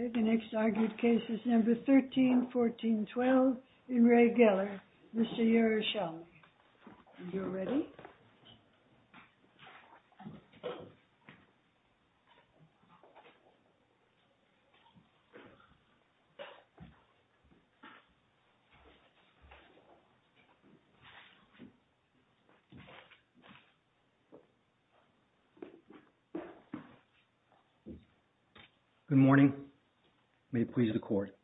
Okay, the next argued case is number 13-14-12 in Re Geller, Mr. Yerushalmi. Are you ready? Good morning, may it please the court.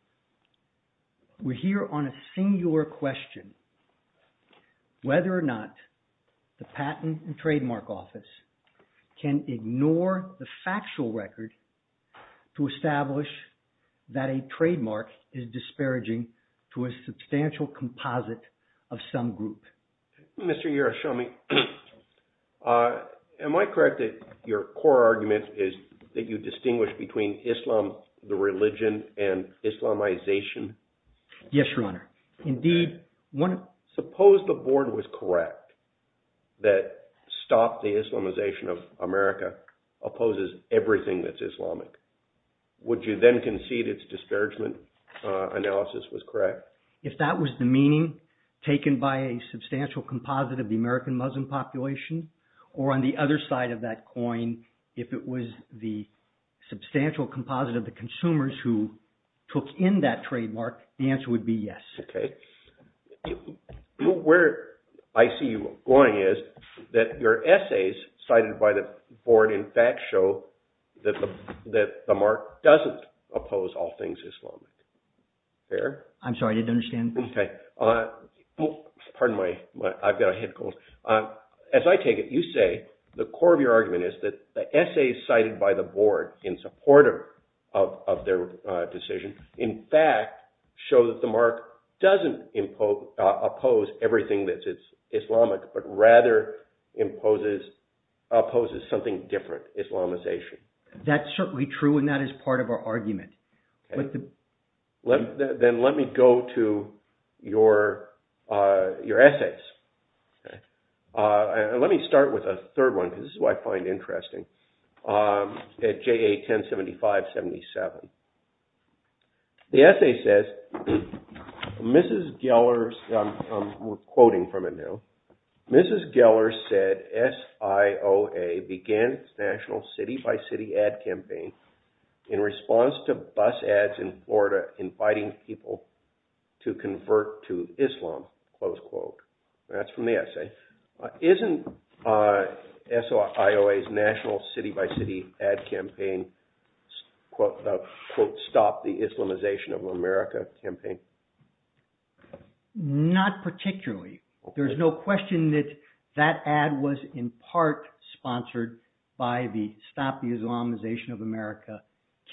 We're here on a singular question, whether or not the Patent and Trademark Office can ignore the factual record to establish that a trademark is disparaging to a substantial composite of some group. Mr. Yerushalmi, am I correct that your core argument is that you distinguish between Islam, the religion, and Islamization? Yes, Your Honor, indeed. Suppose the board was correct that stop the Islamization of America opposes everything that's Islamic. Would you then concede its disparagement analysis was correct? If that was the meaning taken by a substantial composite of the American Muslim population, or on the other side of that coin, if it was the substantial composite of the consumers who took in that trademark, the answer would be yes. Okay. Where I see you going is that your essays cited by the board in fact show that the mark doesn't oppose all things Islamic. I'm sorry, I didn't understand. Okay. Pardon my – I've got a head cold. As I take it, you say the core of your argument is that the essays cited by the board in support of their decision in fact show that the mark doesn't oppose everything that's Islamic, but rather opposes something different, Islamization. That's certainly true, and that is part of our argument. Then let me go to your essays. Let me start with a third one, because this is what I find interesting, at JA 1075-77. The essay says, Mrs. Geller – I'm quoting from it now – Mrs. Geller said SIOA began its national city-by-city ad campaign in response to bus ads in Florida inviting people to convert to Islam. That's from the essay. Isn't SIOA's national city-by-city ad campaign the, quote, stop the Islamization of America campaign? Not particularly. There's no question that that ad was in part sponsored by the stop the Islamization of America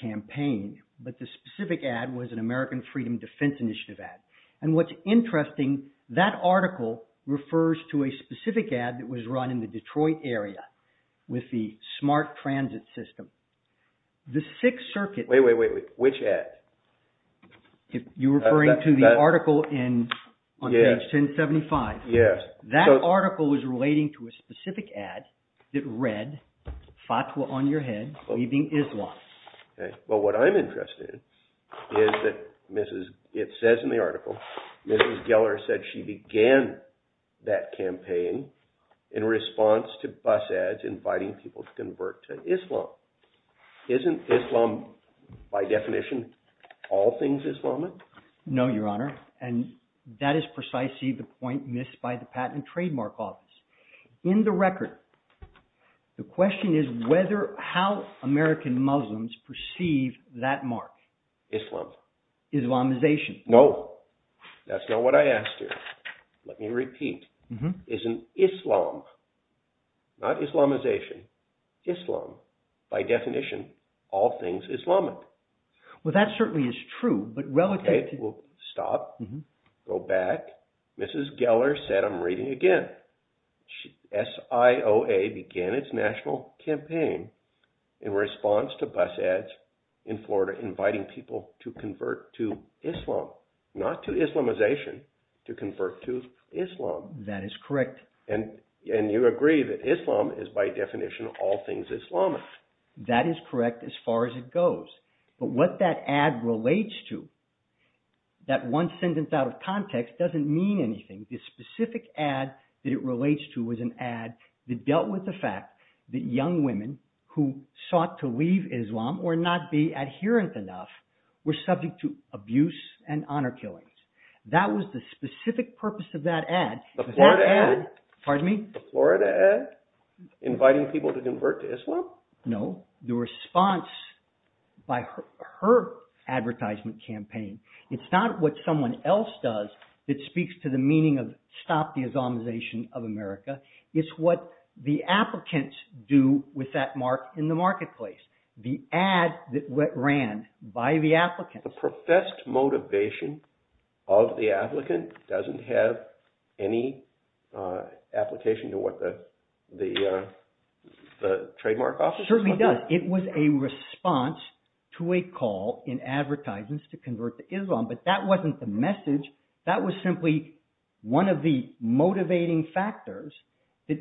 campaign, but the specific ad was an American Freedom Defense Initiative ad. And what's interesting, that article refers to a specific ad that was run in the Detroit area with the smart transit system. The Sixth Circuit… Wait, wait, wait, which ad? You're referring to the article on page 1075? Yes. That article was relating to a specific ad that read, fatwa on your head, leaving Islam. Well, what I'm interested in is that it says in the article, Mrs. Geller said she began that campaign in response to bus ads inviting people to convert to Islam. Isn't Islam, by definition, all things Islamic? No, Your Honor, and that is precisely the point missed by the Patent and Trademark Office. In the record, the question is how American Muslims perceive that mark. Islam. Islamization. No. That's not what I asked you. Let me repeat. Isn't Islam, not Islamization, Islam, by definition, all things Islamic? Well, that certainly is true, but relative to… Go back. Mrs. Geller said, I'm reading again, SIOA began its national campaign in response to bus ads in Florida inviting people to convert to Islam, not to Islamization, to convert to Islam. That is correct. And you agree that Islam is, by definition, all things Islamic. That is correct as far as it goes. But what that ad relates to, that one sentence out of context, doesn't mean anything. The specific ad that it relates to is an ad that dealt with the fact that young women who sought to leave Islam or not be adherent enough were subject to abuse and honor killings. That was the specific purpose of that ad. The Florida ad? Pardon me? The Florida ad inviting people to convert to Islam? No. The response by her advertisement campaign. It's not what someone else does that speaks to the meaning of stop the Islamization of America. It's what the applicants do with that mark in the marketplace. The ad that ran by the applicants. The professed motivation of the applicant doesn't have any application to what the trademark office is? It certainly does. It was a response to a call in advertisements to convert to Islam, but that wasn't the message. That was simply one of the motivating factors that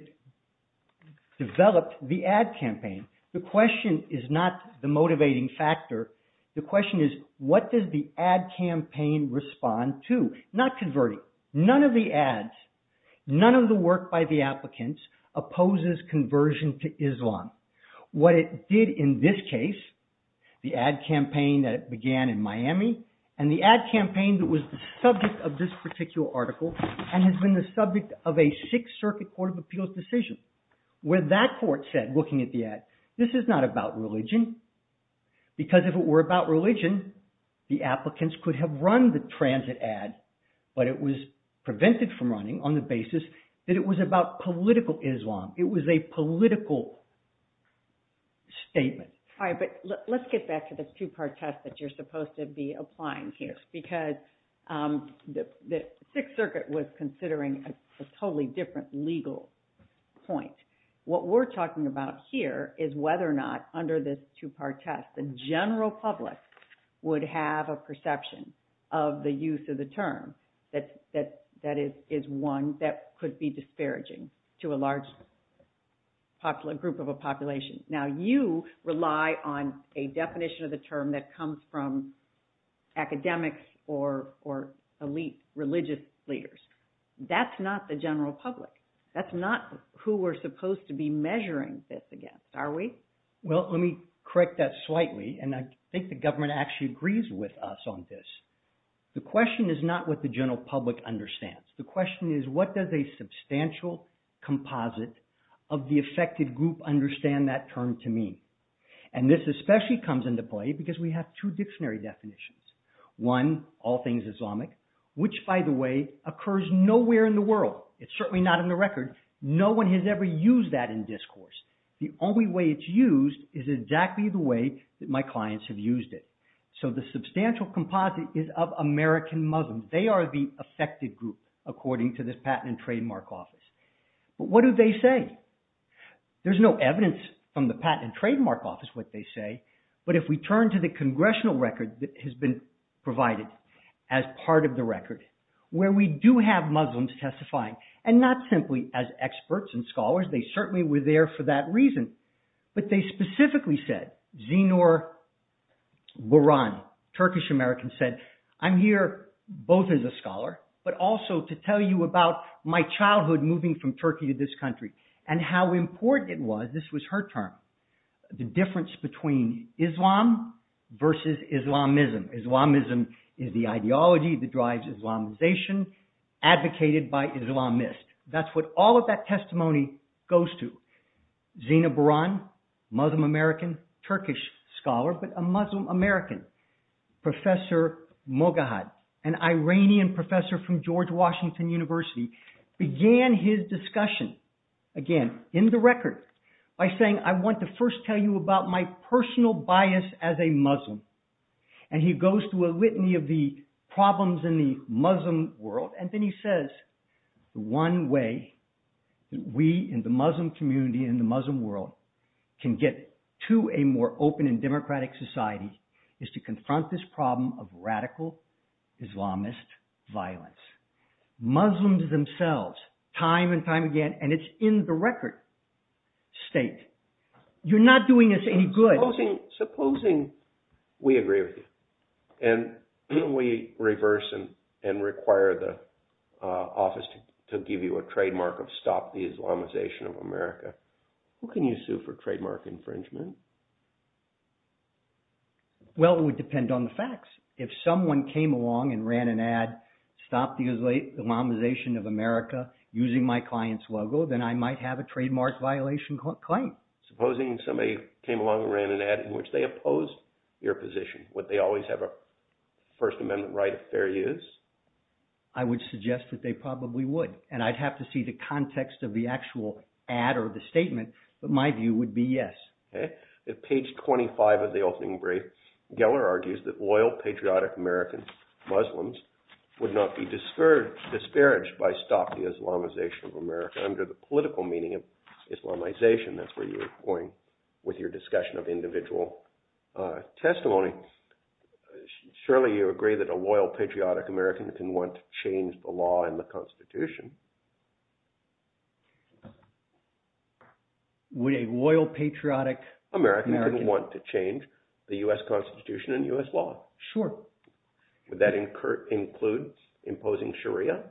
developed the ad campaign. The question is not the motivating factor. The question is what does the ad campaign respond to? Not converting. None of the ads, none of the work by the applicants opposes conversion to Islam. What it did in this case, the ad campaign that began in Miami and the ad campaign that was the subject of this particular article and has been the subject of a Sixth Circuit Court of Appeals decision. Where that court said looking at the ad, this is not about religion. Because if it were about religion, the applicants could have run the transit ad, but it was prevented from running on the basis that it was about political Islam. It was a political statement. All right, but let's get back to the two-part test that you're supposed to be applying here. Because the Sixth Circuit was considering a totally different legal point. What we're talking about here is whether or not under this two-part test, the general public would have a perception of the use of the term that is one that could be disparaging to a large group of a population. Now, you rely on a definition of the term that comes from academics or elite religious leaders. That's not the general public. That's not who we're supposed to be measuring this against, are we? Well, let me correct that slightly, and I think the government actually agrees with us on this. The question is not what the general public understands. The question is what does a substantial composite of the affected group understand that term to mean? And this especially comes into play because we have two dictionary definitions. One, all things Islamic, which, by the way, occurs nowhere in the world. It's certainly not in the record. No one has ever used that in discourse. The only way it's used is exactly the way that my clients have used it. So the substantial composite is of American Muslims. They are the affected group, according to this Patent and Trademark Office. But what do they say? There's no evidence from the Patent and Trademark Office what they say. But if we turn to the congressional record that has been provided as part of the record, where we do have Muslims testifying, and not simply as experts and scholars. They certainly were there for that reason. But they specifically said, Zinur Boran, Turkish-American, said, I'm here both as a scholar, but also to tell you about my childhood moving from Turkey to this country. And how important it was, this was her term, the difference between Islam versus Islamism. Islamism is the ideology that drives Islamization, advocated by Islamists. That's what all of that testimony goes to. Zinur Boran, Muslim-American, Turkish scholar, but a Muslim-American. Professor Mogahed, an Iranian professor from George Washington University, began his discussion, again, in the record, by saying, I want to first tell you about my personal bias as a Muslim. And he goes to a litany of the problems in the Muslim world. And then he says, the one way that we in the Muslim community, in the Muslim world, can get to a more open and democratic society, is to confront this problem of radical Islamist violence. Muslims themselves, time and time again, and it's in the record, state, you're not doing us any good. Supposing we agree with you, and we reverse and require the office to give you a trademark of stop the Islamization of America, who can you sue for trademark infringement? Well, it would depend on the facts. If someone came along and ran an ad, stop the Islamization of America, using my client's logo, then I might have a trademark violation claim. Supposing somebody came along and ran an ad in which they opposed your position, would they always have a First Amendment right of fair use? I would suggest that they probably would. And I'd have to see the context of the actual ad or the statement, but my view would be yes. At page 25 of the opening brief, Geller argues that loyal, patriotic American Muslims would not be disparaged by stop the Islamization of America under the political meaning of Islamization. That's where you were going with your discussion of individual testimony. Surely you agree that a loyal, patriotic American can want to change the law and the Constitution. Would a loyal, patriotic American want to change the U.S. Constitution and U.S. law? Sure. Would that include imposing Sharia?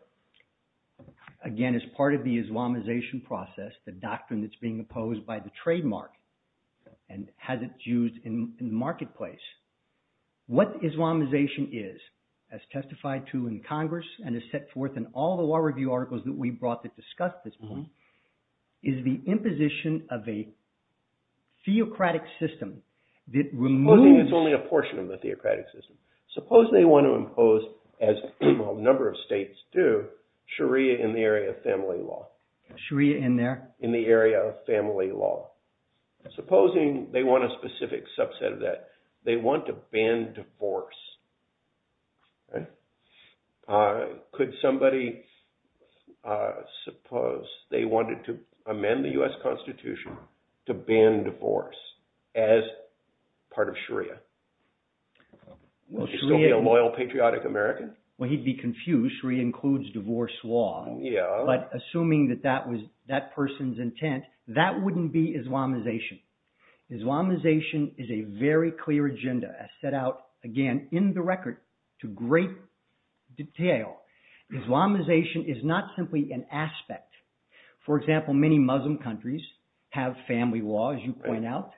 Again, as part of the Islamization process, the doctrine that's being opposed by the trademark and has its use in the marketplace, what Islamization is, as testified to in Congress and is set forth in all the law review articles, that we brought to discuss this point, is the imposition of a theocratic system that removes… Supposing it's only a portion of the theocratic system. Suppose they want to impose, as a number of states do, Sharia in the area of family law. Sharia in there? In the area of family law. Supposing they want a specific subset of that. They want to ban divorce. Could somebody, suppose they wanted to amend the U.S. Constitution to ban divorce as part of Sharia? Would it still be a loyal, patriotic American? Well, he'd be confused. Sharia includes divorce law. Yeah. But assuming that that was that person's intent, that wouldn't be Islamization. Islamization is a very clear agenda, as set out, again, in the record to great detail. Islamization is not simply an aspect. For example, many Muslim countries have family law, as you point out.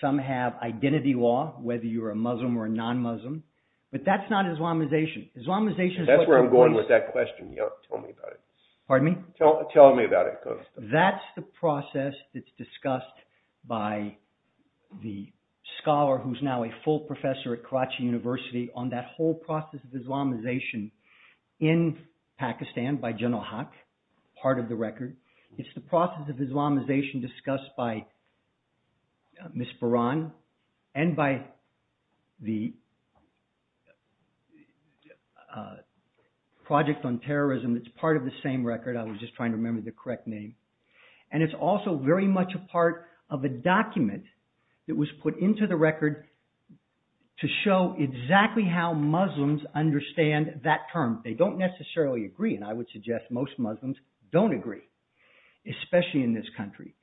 Some have identity law, whether you're a Muslim or a non-Muslim. But that's not Islamization. Islamization is… That's where I'm going with that question. Tell me about it. Pardon me? Tell me about it. That's the process that's discussed by the scholar who's now a full professor at Karachi University on that whole process of Islamization in Pakistan by General Haque, part of the record. It's the process of Islamization discussed by Ms. Baran and by the Project on Terrorism. It's part of the same record. I was just trying to remember the correct name. And it's also very much a part of a document that was put into the record to show exactly how Muslims understand that term. They don't necessarily agree, and I would suggest most Muslims don't agree, especially in this country.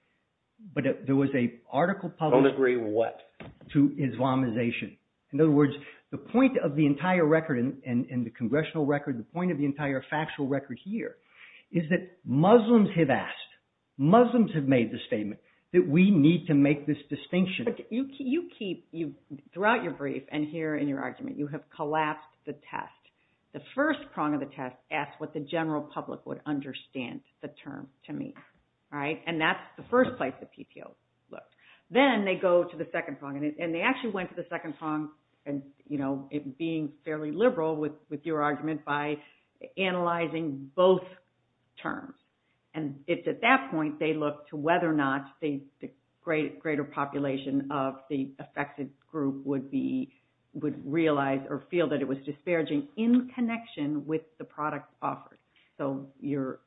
But there was an article published… Don't agree what? To Islamization. In other words, the point of the entire record and the congressional record, the point of the entire factual record here, is that Muslims have asked, Muslims have made the statement that we need to make this distinction. But you keep… Throughout your brief and here in your argument, you have collapsed the test. The first prong of the test asks what the general public would understand the term to mean. All right? And that's the first place the PTO looked. Then they go to the second prong, and they actually went to the second prong, and, you know, being fairly liberal with your argument, by analyzing both terms. And it's at that point they look to whether or not the greater population of the affected group would be… would realize or feel that it was disparaging in connection with the product offered. So you're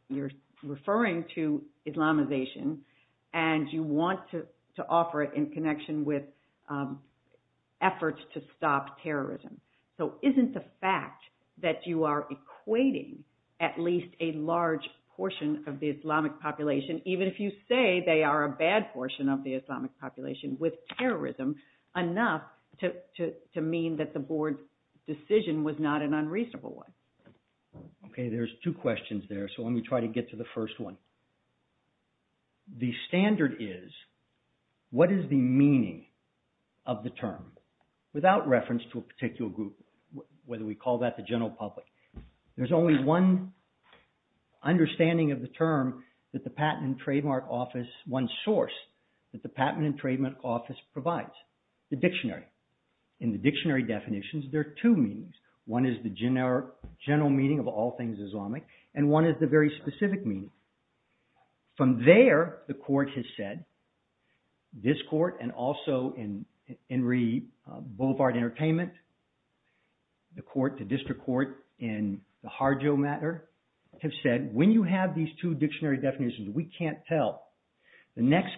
referring to Islamization, and you want to offer it in connection with efforts to stop terrorism. So isn't the fact that you are equating at least a large portion of the Islamic population, even if you say they are a bad portion of the Islamic population with terrorism, enough to mean that the board's decision was not an unreasonable one? Okay, there's two questions there, so let me try to get to the first one. The standard is what is the meaning of the term without reference to a particular group, whether we call that the general public. There's only one understanding of the term that the Patent and Trademark Office… one source that the Patent and Trademark Office provides, the dictionary. In the dictionary definitions, there are two meanings. One is the general meaning of all things Islamic, and one is the very specific meaning. From there, the court has said, this court and also Henry Boulevard Entertainment, the court, the district court in the Harjo matter have said, when you have these two dictionary definitions, we can't tell. The next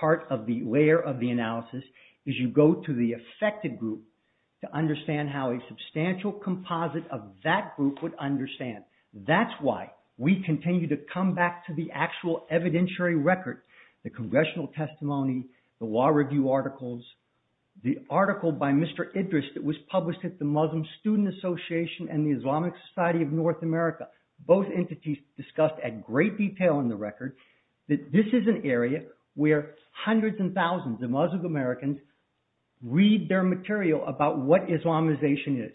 part of the layer of the analysis is you go to the affected group to understand how a substantial composite of that group would understand. That's why we continue to come back to the actual evidentiary record, the congressional testimony, the law review articles, the article by Mr. Idris that was published at the Muslim Student Association and the Islamic Society of North America. Both entities discussed at great detail in the record that this is an area where hundreds and thousands of Muslim Americans read their material about what Islamization is.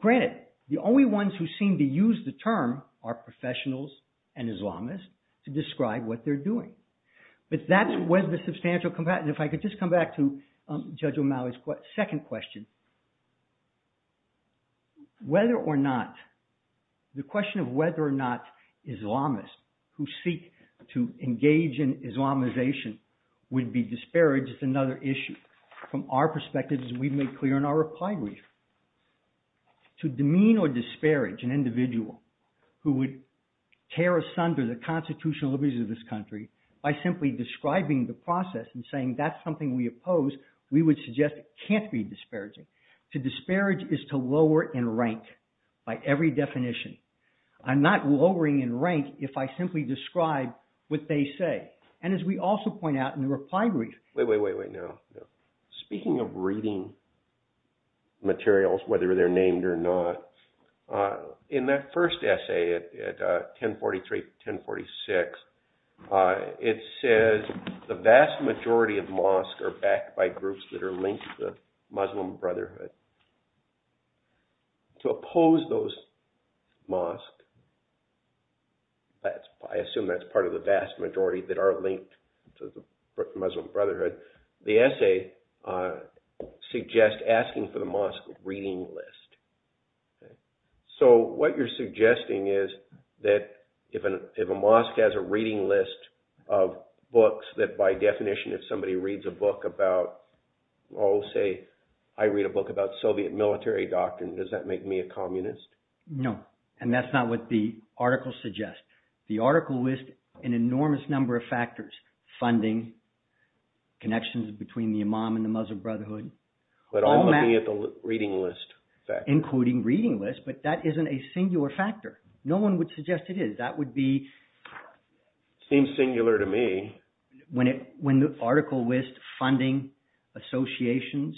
Granted, the only ones who seem to use the term are professionals and Islamists to describe what they're doing. But that's where the substantial… if I could just come back to Judge O'Malley's second question. Whether or not, the question of whether or not Islamists who seek to engage in Islamization would be disparaged is another issue. From our perspective, as we've made clear in our reply brief, to demean or disparage an individual who would tear asunder the constitutional liberties of this country by simply describing the process and saying that's something we oppose, we would suggest it can't be disparaging. To disparage is to lower in rank by every definition. I'm not lowering in rank if I simply describe what they say. And as we also point out in the reply brief… Wait, wait, wait, wait now. Speaking of reading materials, whether they're named or not, in that first essay at 1043-1046, it says, the vast majority of mosques are backed by groups that are linked to the Muslim Brotherhood. To oppose those mosques, I assume that's part of the vast majority that are linked to the Muslim Brotherhood. The essay suggests asking for the mosque reading list. So what you're suggesting is that if a mosque has a reading list of books, that by definition if somebody reads a book about, I'll say I read a book about Soviet military doctrine, does that make me a communist? No, and that's not what the article suggests. The article lists an enormous number of factors. Funding, connections between the imam and the Muslim Brotherhood. But I'm looking at the reading list. Including reading lists, but that isn't a singular factor. No one would suggest it is. That would be… Seems singular to me. When the article lists funding, associations,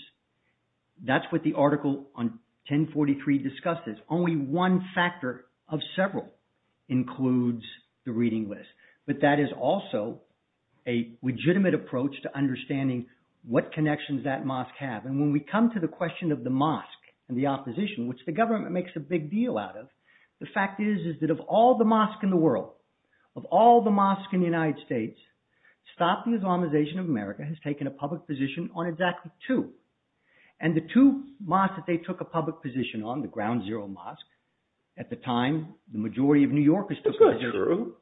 that's what the article on 1043 discusses. Only one factor of several includes the reading list. But that is also a legitimate approach to understanding what connections that mosque have. And when we come to the question of the mosque and the opposition, which the government makes a big deal out of, the fact is that of all the mosques in the world, of all the mosques in the United States, Stop the Islamization of America has taken a public position on exactly two. And the two mosques that they took a public position on, the Ground Zero Mosque, at the time, the majority of New Yorkers took… That's not true.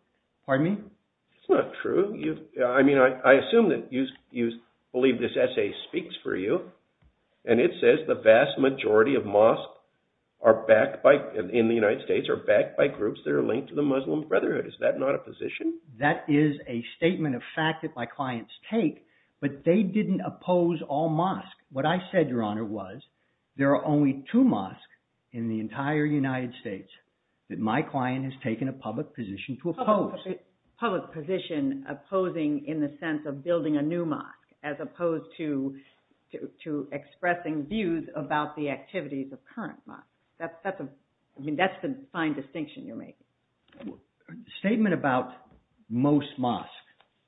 Pardon me? That's not true. I mean, I assume that you believe this essay speaks for you. And it says the vast majority of mosques in the United States are backed by groups that are linked to the Muslim Brotherhood. Is that not a position? That is a statement of fact that my clients take. But they didn't oppose all mosques. What I said, Your Honor, was there are only two mosques in the entire United States that my client has taken a public position to oppose. Public position opposing in the sense of building a new mosque as opposed to expressing views about the activities of current mosques. That's the fine distinction you're making. A statement about most mosques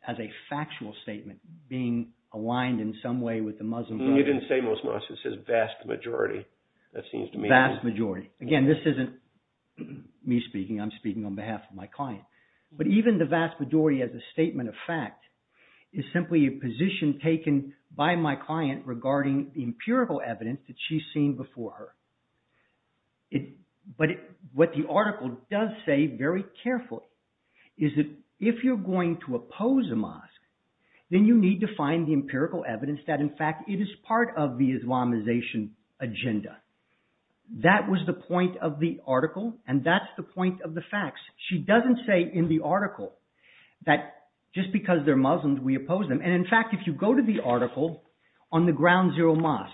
as a factual statement being aligned in some way with the Muslim Brotherhood… You didn't say most mosques. It says vast majority. Vast majority. Again, this isn't me speaking. I'm speaking on behalf of my client. But even the vast majority as a statement of fact is simply a position taken by my client regarding the empirical evidence that she's seen before her. But what the article does say very carefully is that if you're going to oppose a mosque then you need to find the empirical evidence that in fact it is part of the Islamization agenda. That was the point of the article and that's the point of the facts. She doesn't say in the article that just because they're Muslims we oppose them. And in fact if you go to the article on the Ground Zero Mosques,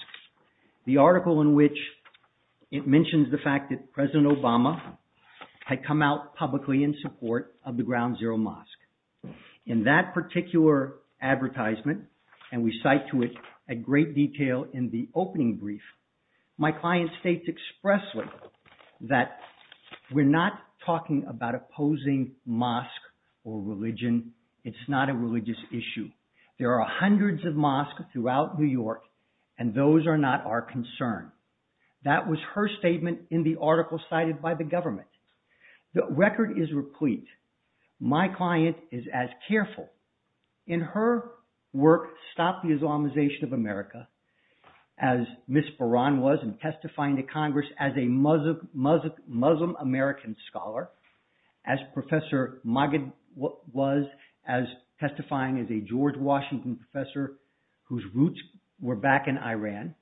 the article in which it mentions the fact that President Obama had come out publicly in support of the Ground Zero Mosque. In that particular advertisement, and we cite to it in great detail in the opening brief, my client states expressly that we're not talking about opposing mosque or religion. It's not a religious issue. There are hundreds of mosques throughout New York and those are not our concern. That was her statement in the article cited by the government. The record is replete. My client is as careful. In her work, Stop the Islamization of America, as Ms. Baran was in testifying to Congress as a Muslim American scholar, as Professor Magid was testifying as a George Washington professor whose roots were back in Iran.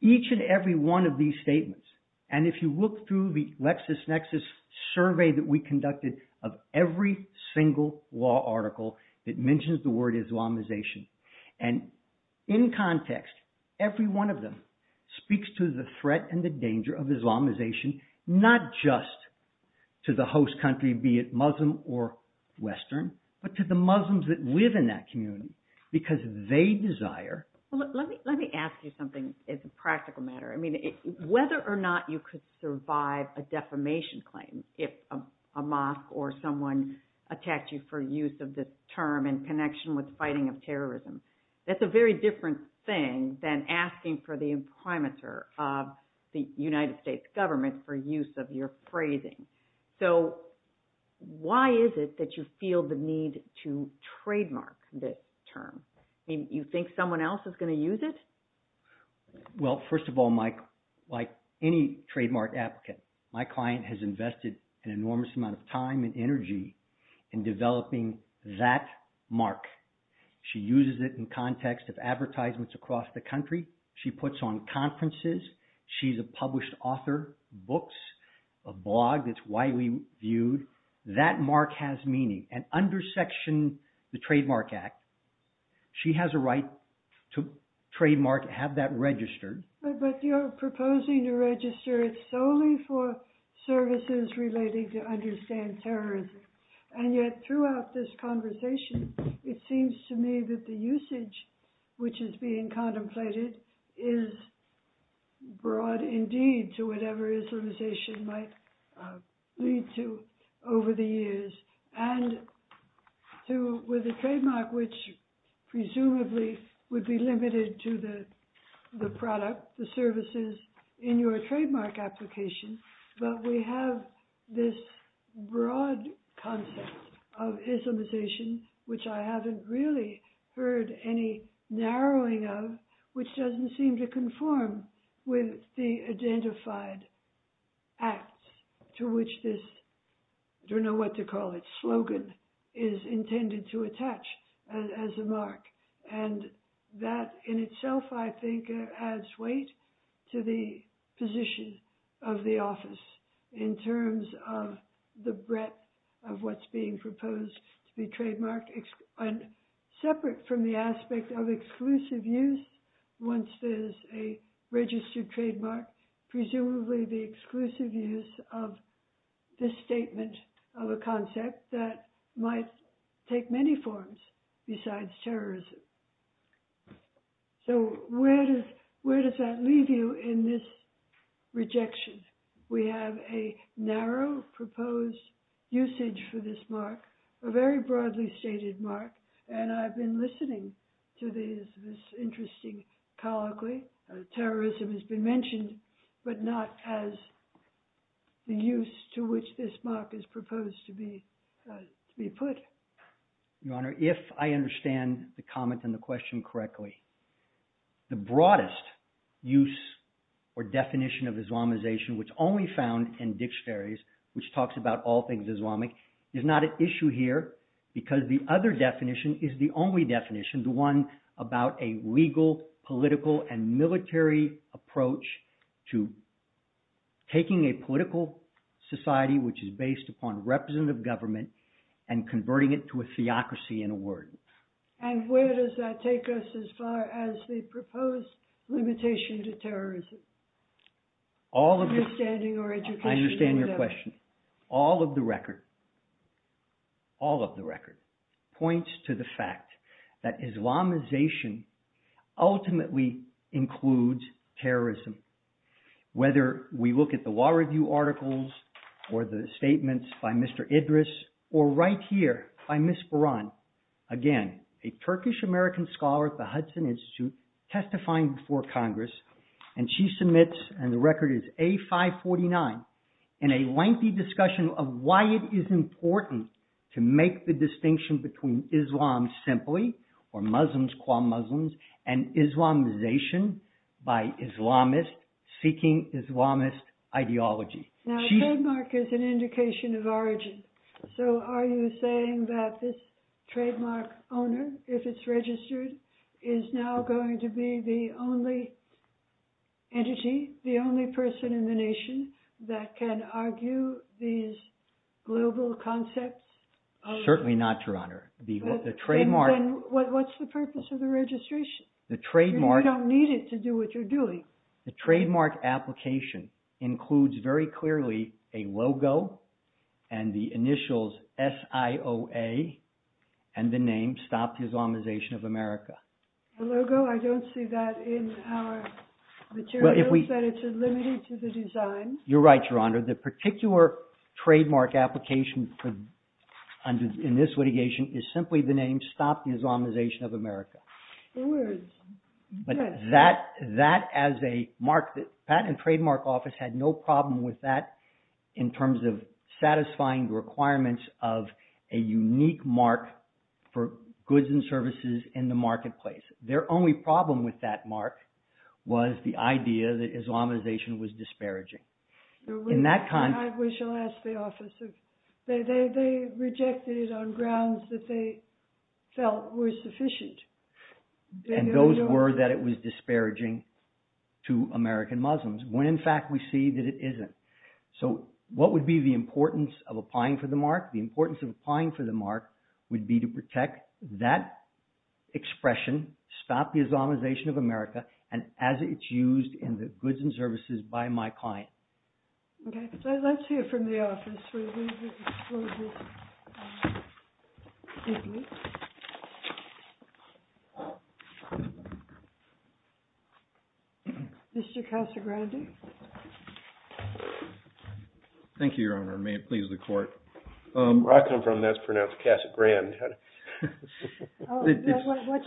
Each and every one of these statements, and if you look through the LexisNexis survey that we conducted of every single law article that mentions the word Islamization. And in context, every one of them speaks to the threat and the danger of Islamization, not just to the host country, be it Muslim or Western, but to the Muslims that live in that community because they desire. Let me ask you something as a practical matter. Whether or not you could survive a defamation claim if a mosque or someone attacks you for use of this term in connection with fighting of terrorism, that's a very different thing than asking for the imprimatur of the United States government for use of your phrasing. So why is it that you feel the need to trademark this term? You think someone else is going to use it? Well, first of all, like any trademark applicant, my client has invested an enormous amount of time and energy in developing that mark. She uses it in context of advertisements across the country. She puts on conferences. She's a published author, books, a blog that's widely viewed. That mark has meaning. And under Section, the Trademark Act, she has a right to trademark, have that registered. But you're proposing to register it solely for services related to understand terrorism. And yet, throughout this conversation, it seems to me that the usage, which is being contemplated, is broad indeed to whatever Islamization might lead to over the years. And with the trademark, which presumably would be limited to the product, the services in your trademark application, but we have this broad concept of Islamization, which I haven't really heard any narrowing of, which doesn't seem to conform with the identified act to which this, I don't know what to call it, slogan is intended to attach as a mark. And that in itself, I think, adds weight to the position of the office in terms of the breadth of what's being proposed to be trademarked. And separate from the aspect of exclusive use, once there's a registered trademark, presumably the exclusive use of this statement of a concept that might take many forms besides terrorism. So where does that leave you in this rejection? We have a narrow proposed usage for this mark, a very broadly stated mark, and I've been listening to this interesting colloquy, terrorism has been mentioned, but not as the use to which this mark is proposed to be put. Your Honor, if I understand the comment and the question correctly, the broadest use or definition of Islamization, which only found in dictionaries, which talks about all things Islamic, is not an issue here because the other definition is the only definition, I mentioned one about a legal, political, and military approach to taking a political society which is based upon representative government and converting it to a theocracy in a word. And where does that take us as far as the proposed limitation to terrorism? I understand your question. All of the record points to the fact that Islamization ultimately includes terrorism. Whether we look at the law review articles or the statements by Mr. Idris or right here by Ms. Buran, again, a Turkish-American scholar at the Hudson Institute testifying before Congress, and she submits, and the record is A549, in a lengthy discussion of why it is important to make the distinction between Islam simply, or Muslims qua Muslims, and Islamization by Islamists seeking Islamist ideology. Now a trademark is an indication of origin. So are you saying that this trademark owner, if it's registered, is now going to be the only entity, the only person in the nation, that can argue these global concepts? Certainly not, Your Honor. Then what's the purpose of the registration? You don't need it to do what you're doing. The trademark application includes very clearly a logo and the initials SIOA and the name Stop the Islamization of America. The logo, I don't see that in our materials, that it's limited to the design. You're right, Your Honor. The particular trademark application in this litigation is simply the name Stop the Islamization of America. But that, as a trademark office, had no problem with that in terms of satisfying the requirements of a unique mark for goods and services in the marketplace. Their only problem with that mark was the idea that Islamization was disparaging. We shall ask the office. They rejected it on grounds that they felt were sufficient. And those were that it was disparaging to American Muslims when in fact we see that it isn't. So what would be the importance of applying for the mark? The importance of applying for the mark would be to protect that expression, Stop the Islamization of America, and as it's used in the goods and services by my client. Okay. Let's hear from the office. Mr. Casa Grande. Thank you, Your Honor. May it please the court. Where I come from, that's pronounced Casa Grand.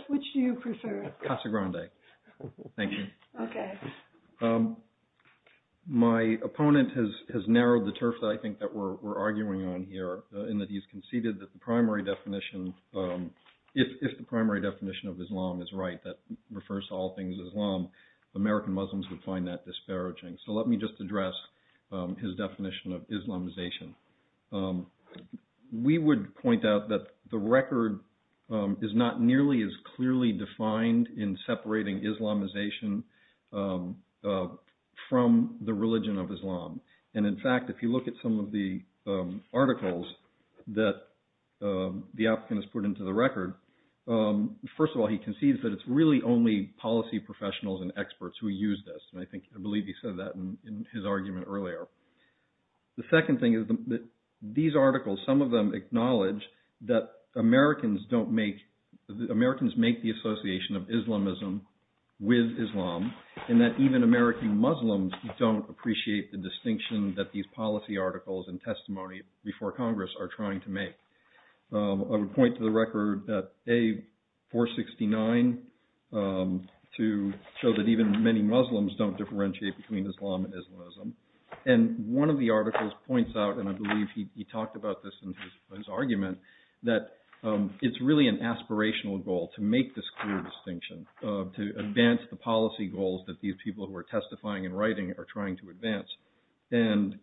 Which do you prefer? Casa Grande. Thank you. Okay. My opponent has narrowed the turf that I think that we're arguing on here in that he's conceded that the primary definition, if the primary definition of Islam is right, that refers to all things Islam, American Muslims would find that disparaging. So let me just address his definition of Islamization. We would point out that the record is not nearly as clearly defined in separating Islamization from the religion of Islam. And in fact, if you look at some of the articles that the applicant has put into the record, first of all, he concedes that it's really only policy professionals and experts who use this. And I think, I believe he said that in his argument earlier. The second thing is that these articles, some of them acknowledge that Americans don't make, Americans make the association of Islamism with Islam and that even American Muslims don't appreciate the distinction that these policy articles and testimony before Congress are trying to make. I would point to the record that A469 to show that even many Muslims don't differentiate between Islam and Islamism. And one of the articles points out, and I believe he talked about this in his argument, that it's really an aspirational goal to make this clear distinction, to advance the policy goals that these people who are testifying and writing are trying to advance. And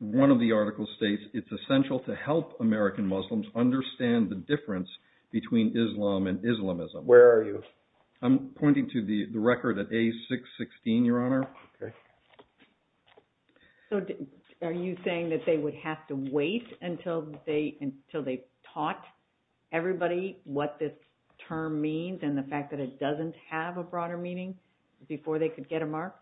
one of the articles states, it's essential to help American Muslims understand the difference between Islam and Islamism. Where are you? I'm pointing to the record at A616, Your Honor. So are you saying that they would have to wait until they taught everybody what this term means and the fact that it doesn't have a broader meaning before they could get a mark?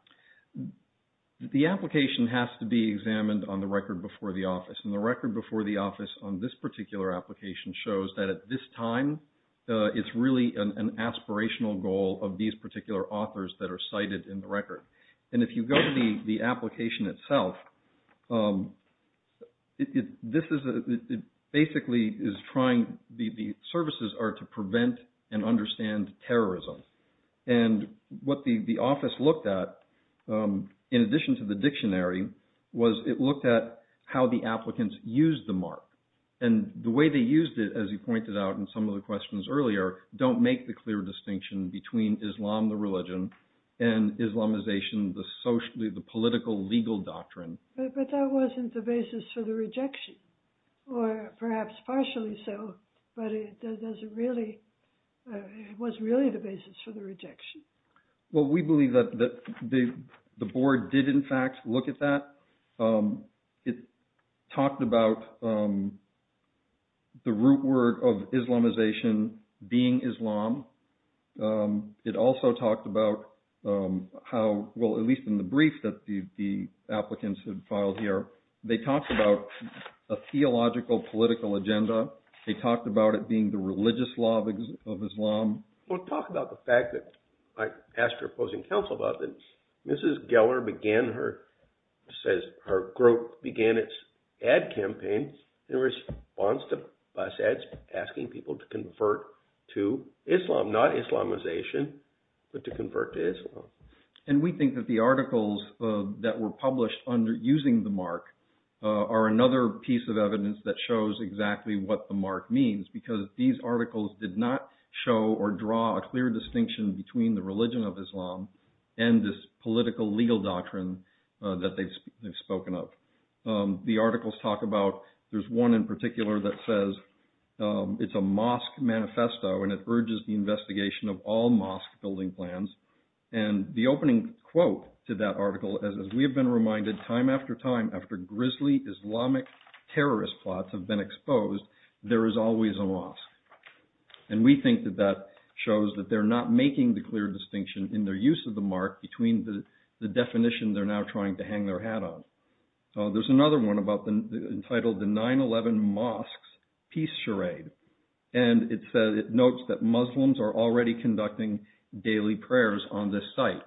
The application has to be examined on the record before the office. And the record before the office on this particular application shows that at this time it's really an aspirational goal of these particular authors that are cited in the record. And if you go to the application itself, it basically is trying, the services are to prevent and understand terrorism. And what the office looked at, in addition to the dictionary, was it looked at how the applicants used the mark. And the way they used it, as you pointed out in some of the questions earlier, don't make the clear distinction between Islam, the religion, and Islamization, the social, the political, legal doctrine. But that wasn't the basis for the rejection, or perhaps partially so, but it doesn't really, it was really the basis for the rejection. Well, we believe that the board did in fact look at that. It talked about the root word of Islamization being Islam. It also talked about how, well, at least in the brief that the applicants had filed here, they talked about a theological, political agenda. They talked about it being the religious law of Islam. Well, it talked about the fact that, I asked her opposing counsel about it, Mrs. Geller began her, says her group began its ad campaign in response to bus ads asking people to convert to Islam, not Islamization, but to convert to Islam. And we think that the articles that were published using the mark are another piece of evidence that shows exactly what the mark means, because these articles did not show or draw a clear distinction between the religion of Islam and this political legal doctrine that they've spoken of. The articles talk about, there's one in particular that says it's a mosque manifesto and it urges the investigation of all mosque building plans. And the opening quote to that article, as we have been reminded time after time, after grisly Islamic terrorist plots have been exposed, there is always a mosque. And we think that that shows that they're not making the clear distinction in their use of the mark between the definition they're now trying to hang their hat on. There's another one entitled the 9-11 mosques peace charade. And it notes that Muslims are already conducting daily prayers on this site.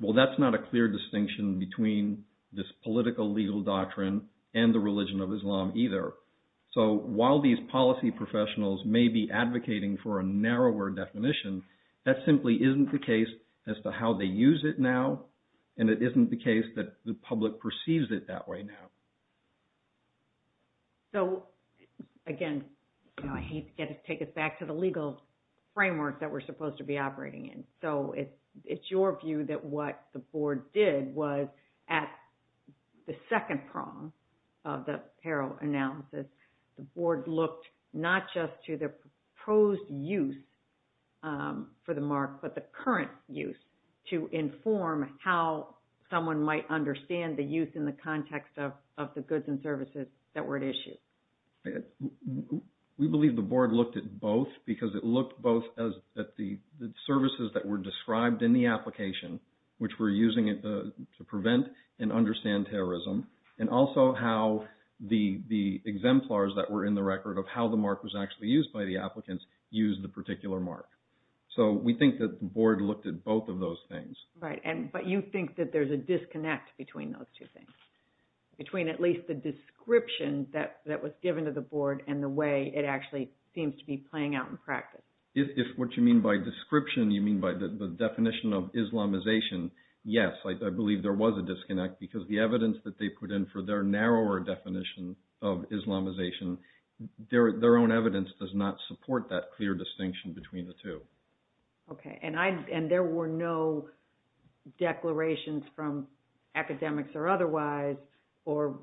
Well, that's not a clear distinction between this political legal doctrine and the religion of Islam either. So while these policy professionals may be advocating for a narrower definition, that simply isn't the case as to how they use it now, and it isn't the case that the public perceives it that way now. So, again, I hate to take us back to the legal framework that we're supposed to be operating in. So it's your view that what the board did was at the second prong of the peril analysis, the board looked not just to the proposed use for the mark, but the current use to inform how someone might understand the use in the context of the goods and services that were at issue. We believe the board looked at both, because it looked both at the services that were described in the application, which we're using to prevent and understand terrorism, and also how the exemplars that were in the record of how the mark was actually used by the applicants used the particular mark. So we think that the board looked at both of those things. Right, but you think that there's a disconnect between those two things, between at least the description that was given to the board and the way it actually seems to be playing out in practice. If what you mean by description, you mean by the definition of Islamization, yes, I believe there was a disconnect, because the evidence that they put in for their narrower definition of Islamization, their own evidence does not support that clear distinction between the two. Okay, and there were no declarations from academics or otherwise, or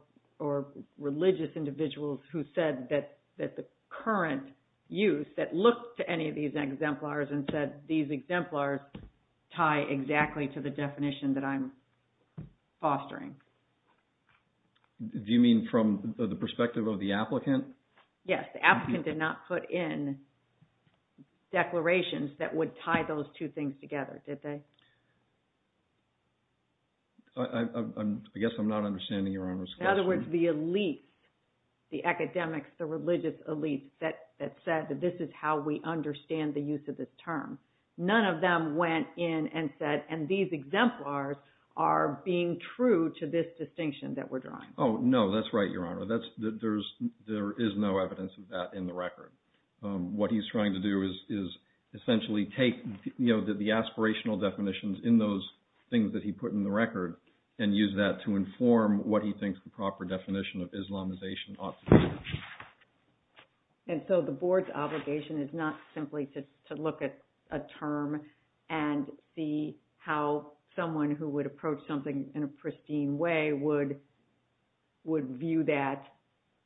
religious individuals who said that the current use that looked to any of these exemplars and said these exemplars tie exactly to the definition that I'm fostering. Do you mean from the perspective of the applicant? Yes, the applicant did not put in declarations that would tie those two things together, did they? I guess I'm not understanding Your Honor's question. In other words, the elites, the academics, the religious elites, that said that this is how we understand the use of this term. None of them went in and said, and these exemplars are being true to this distinction that we're drawing. Oh, no, that's right, Your Honor. There is no evidence of that in the record. What he's trying to do is essentially take the aspirational definitions in those things that he put in the record and use that to inform what he thinks the proper definition of Islamization ought to be. And so the board's obligation is not simply to look at a term and see how someone who would approach something in a pristine way would view that.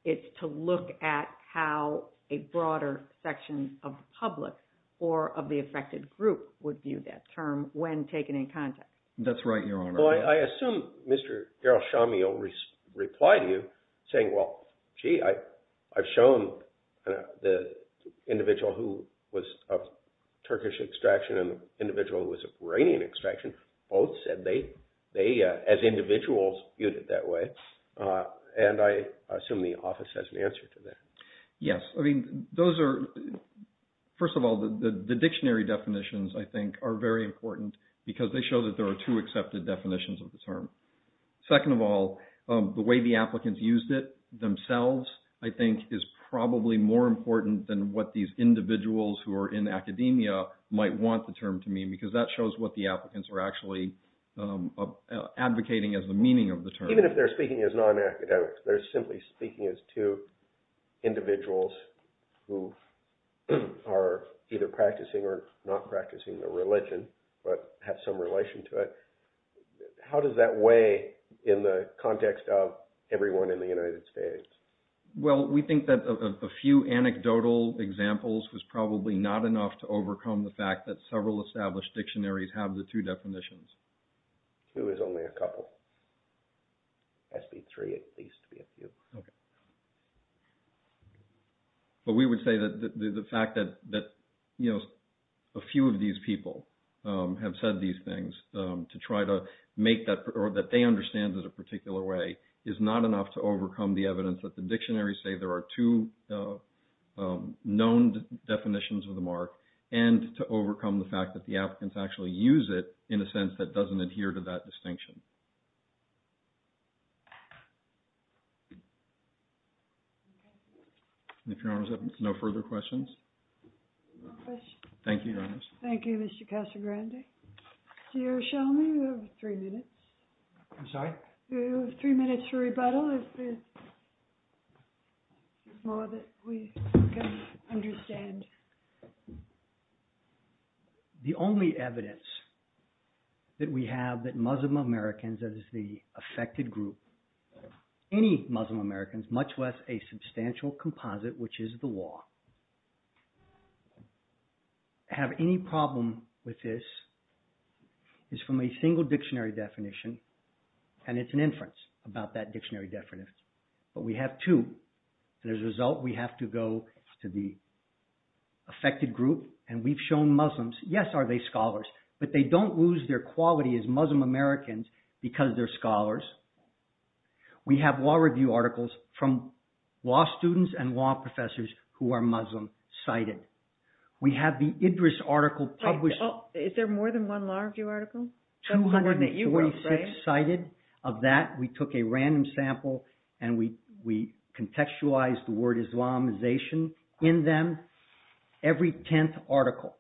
It's to look at how a broader section of the public or of the affected group would view that term when taken in context. That's right, Your Honor. Well, I assume Mr. Daryl Shamil replied to you saying, well, gee, I've shown the individual who was of Turkish extraction and the individual who was of Iranian extraction, both said they, as individuals, viewed it that way. And I assume the office has an answer to that. Yes. I mean, those are, first of all, the dictionary definitions, I think, are very important because they show that there are two accepted definitions of the term. Second of all, the way the applicants used it themselves, I think, is probably more important than what these individuals who are in academia might want the term to mean because that shows what the applicants are actually advocating as the meaning of the term. Even if they're speaking as non-academics, they're simply speaking as two individuals who are either practicing or not practicing a religion, but have some relation to it. How does that weigh in the context of everyone in the United States? Well, we think that a few anecdotal examples was probably not enough to overcome the fact that several established dictionaries have the two definitions. Two is only a couple. Has to be three at least to be a few. Okay. But we would say that the fact that a few of these people have said these things to try to make that, or that they understand it a particular way, is not enough to overcome the evidence that the dictionaries say there are two known definitions of the mark and to overcome the fact that the applicants actually use it in a sense that doesn't adhere to that distinction. If your honors have no further questions. Thank you, your honors. Thank you, Mr. Casagrande. Do you have three minutes? I'm sorry? Do you have three minutes for rebuttal if there's more that we can understand? The only evidence that we have that Muslim Americans as the affected group, any Muslim Americans, much less a substantial composite, which is the law, have any problem with this is from a single dictionary definition, and it's an inference about that dictionary definition. But we have two, and as a result we have to go to the affected group, and we've shown Muslims, yes, are they scholars, but they don't lose their quality as Muslim Americans because they're scholars. We have law review articles from law students and law professors who are Muslim cited. We have the Idris article published. Is there more than one law review article? 246 cited of that. We took a random sample and we contextualized the word Islamization in them, every tenth article,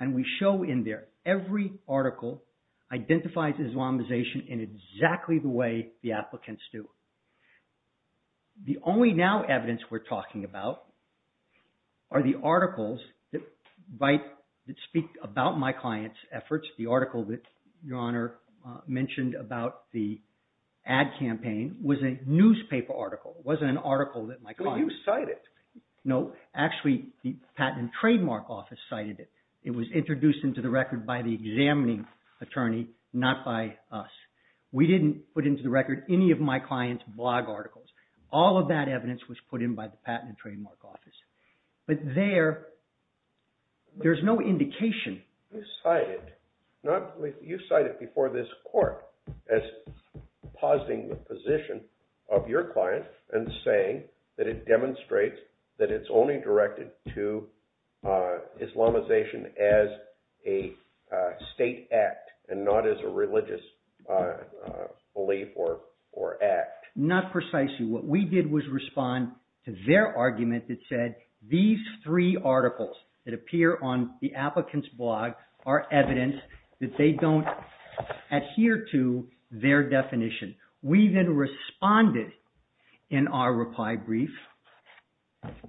and we show in there, every article identifies Islamization in exactly the way the applicants do. The only now evidence we're talking about are the articles that speak about my client's efforts. The article that Your Honor mentioned about the ad campaign was a newspaper article. It wasn't an article that my client cited. But you cite it. No, actually the Patent and Trademark Office cited it. It was introduced into the record by the examining attorney, not by us. We didn't put into the record any of my client's blog articles. All of that evidence was put in by the Patent and Trademark Office. But there, there's no indication. You cite it. You cite it before this court as positing the position of your client and saying that it demonstrates that it's only directed to Islamization as a state act and not as a religious belief or act. Not precisely. What we did was respond to their argument that said these three articles that appear on the applicant's blog are evidence that they don't adhere to their definition. We then responded in our reply brief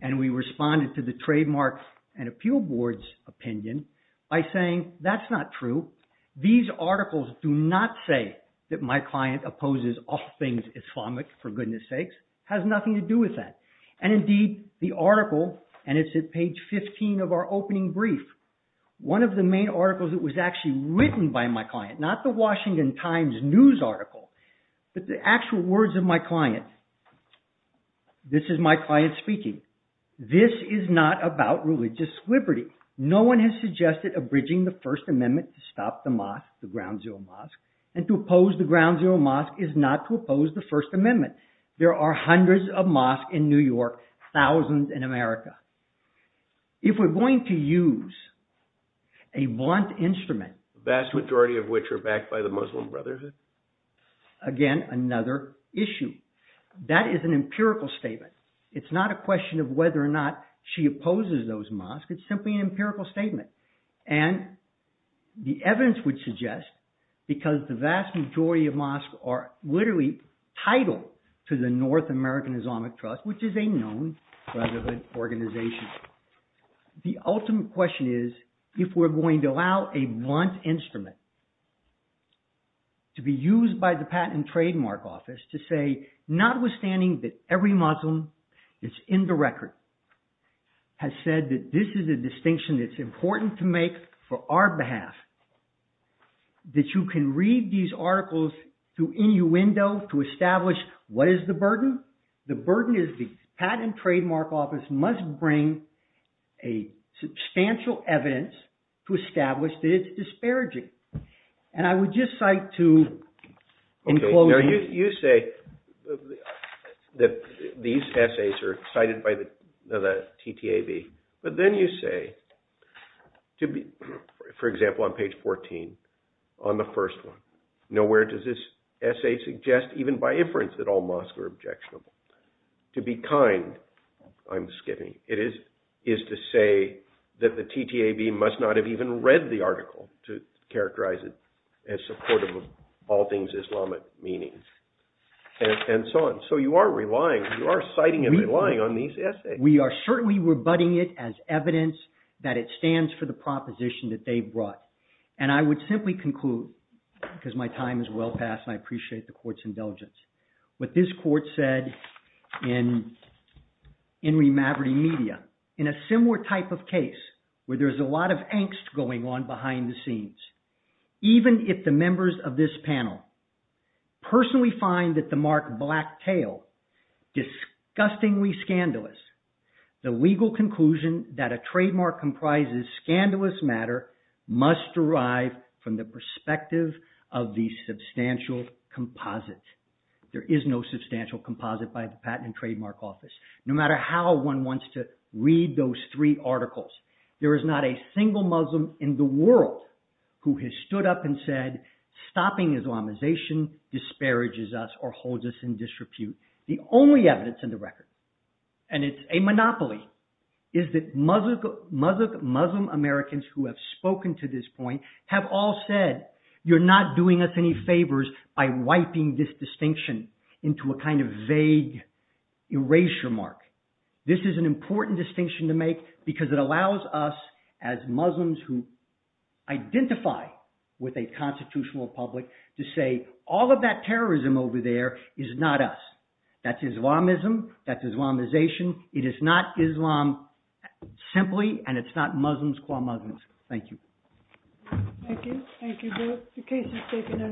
and we responded to the Trademark and Appeal Board's opinion by saying that's not true. These articles do not say that my client opposes all things Islamic, for goodness sakes. It has nothing to do with that. And indeed, the article, and it's at page 15 of our opening brief, one of the main articles that was actually written by my client, not the Washington Times news article, but the actual words of my client. This is my client speaking. This is not about religious liberty. No one has suggested abridging the First Amendment to stop the mosque, the Ground Zero Mosque, and to oppose the Ground Zero Mosque is not to oppose the First Amendment. There are hundreds of mosques in New York, thousands in America. If we're going to use a blunt instrument, the vast majority of which are backed by the Muslim Brotherhood. Again, another issue. That is an empirical statement. It's not a question of whether or not she opposes those mosques. It's simply an empirical statement. And the evidence would suggest, because the vast majority of mosques are literally titled to the North American Islamic Trust, which is a known Brotherhood organization, the ultimate question is if we're going to allow a blunt instrument to be used by the Patent and Trademark Office to say, notwithstanding that every Muslim that's in the record has said that this is a distinction that's important to make for our behalf, that you can read these articles through any window to establish what is the burden. The burden is the Patent and Trademark Office must bring a substantial evidence to establish that it's disparaging. And I would just like to... You say that these essays are cited by the TTAB, but then you say, for example, on page 14, on the first one, nowhere does this essay suggest, even by inference, that all mosques are objectionable. To be kind, I'm skipping, it is to say that the TTAB must not have even read the article to characterize it as supportive of all things Islamic meaning, and so on. So you are relying, you are citing and relying on these essays. We are certainly rebutting it as evidence that it stands for the proposition that they brought. And I would simply conclude, because my time is well past, and I appreciate the court's indulgence, what this court said in Enri Maverty Media, in a similar type of case where there's a lot of angst going on behind the scenes, even if the members of this panel personally find that the mark Black Tail disgustingly scandalous, the legal conclusion that a trademark comprises scandalous matter must derive from the perspective of the substantial composite. There is no substantial composite by the Patent and Trademark Office. No matter how one wants to read those three articles, there is not a single Muslim in the world who has stood up and said, stopping Islamization disparages us or holds us in disrepute. The only evidence in the record, and it's a monopoly, is that Muslim Americans who have spoken to this point have all said, you're not doing us any favors by wiping this distinction into a kind of vague erasure mark. This is an important distinction to make because it allows us, as Muslims who identify with a constitutional republic, to say all of that terrorism over there is not us. That's Islamism. That's Islamization. It is not Islam simply, and it's not Muslims call Muslims. Thank you.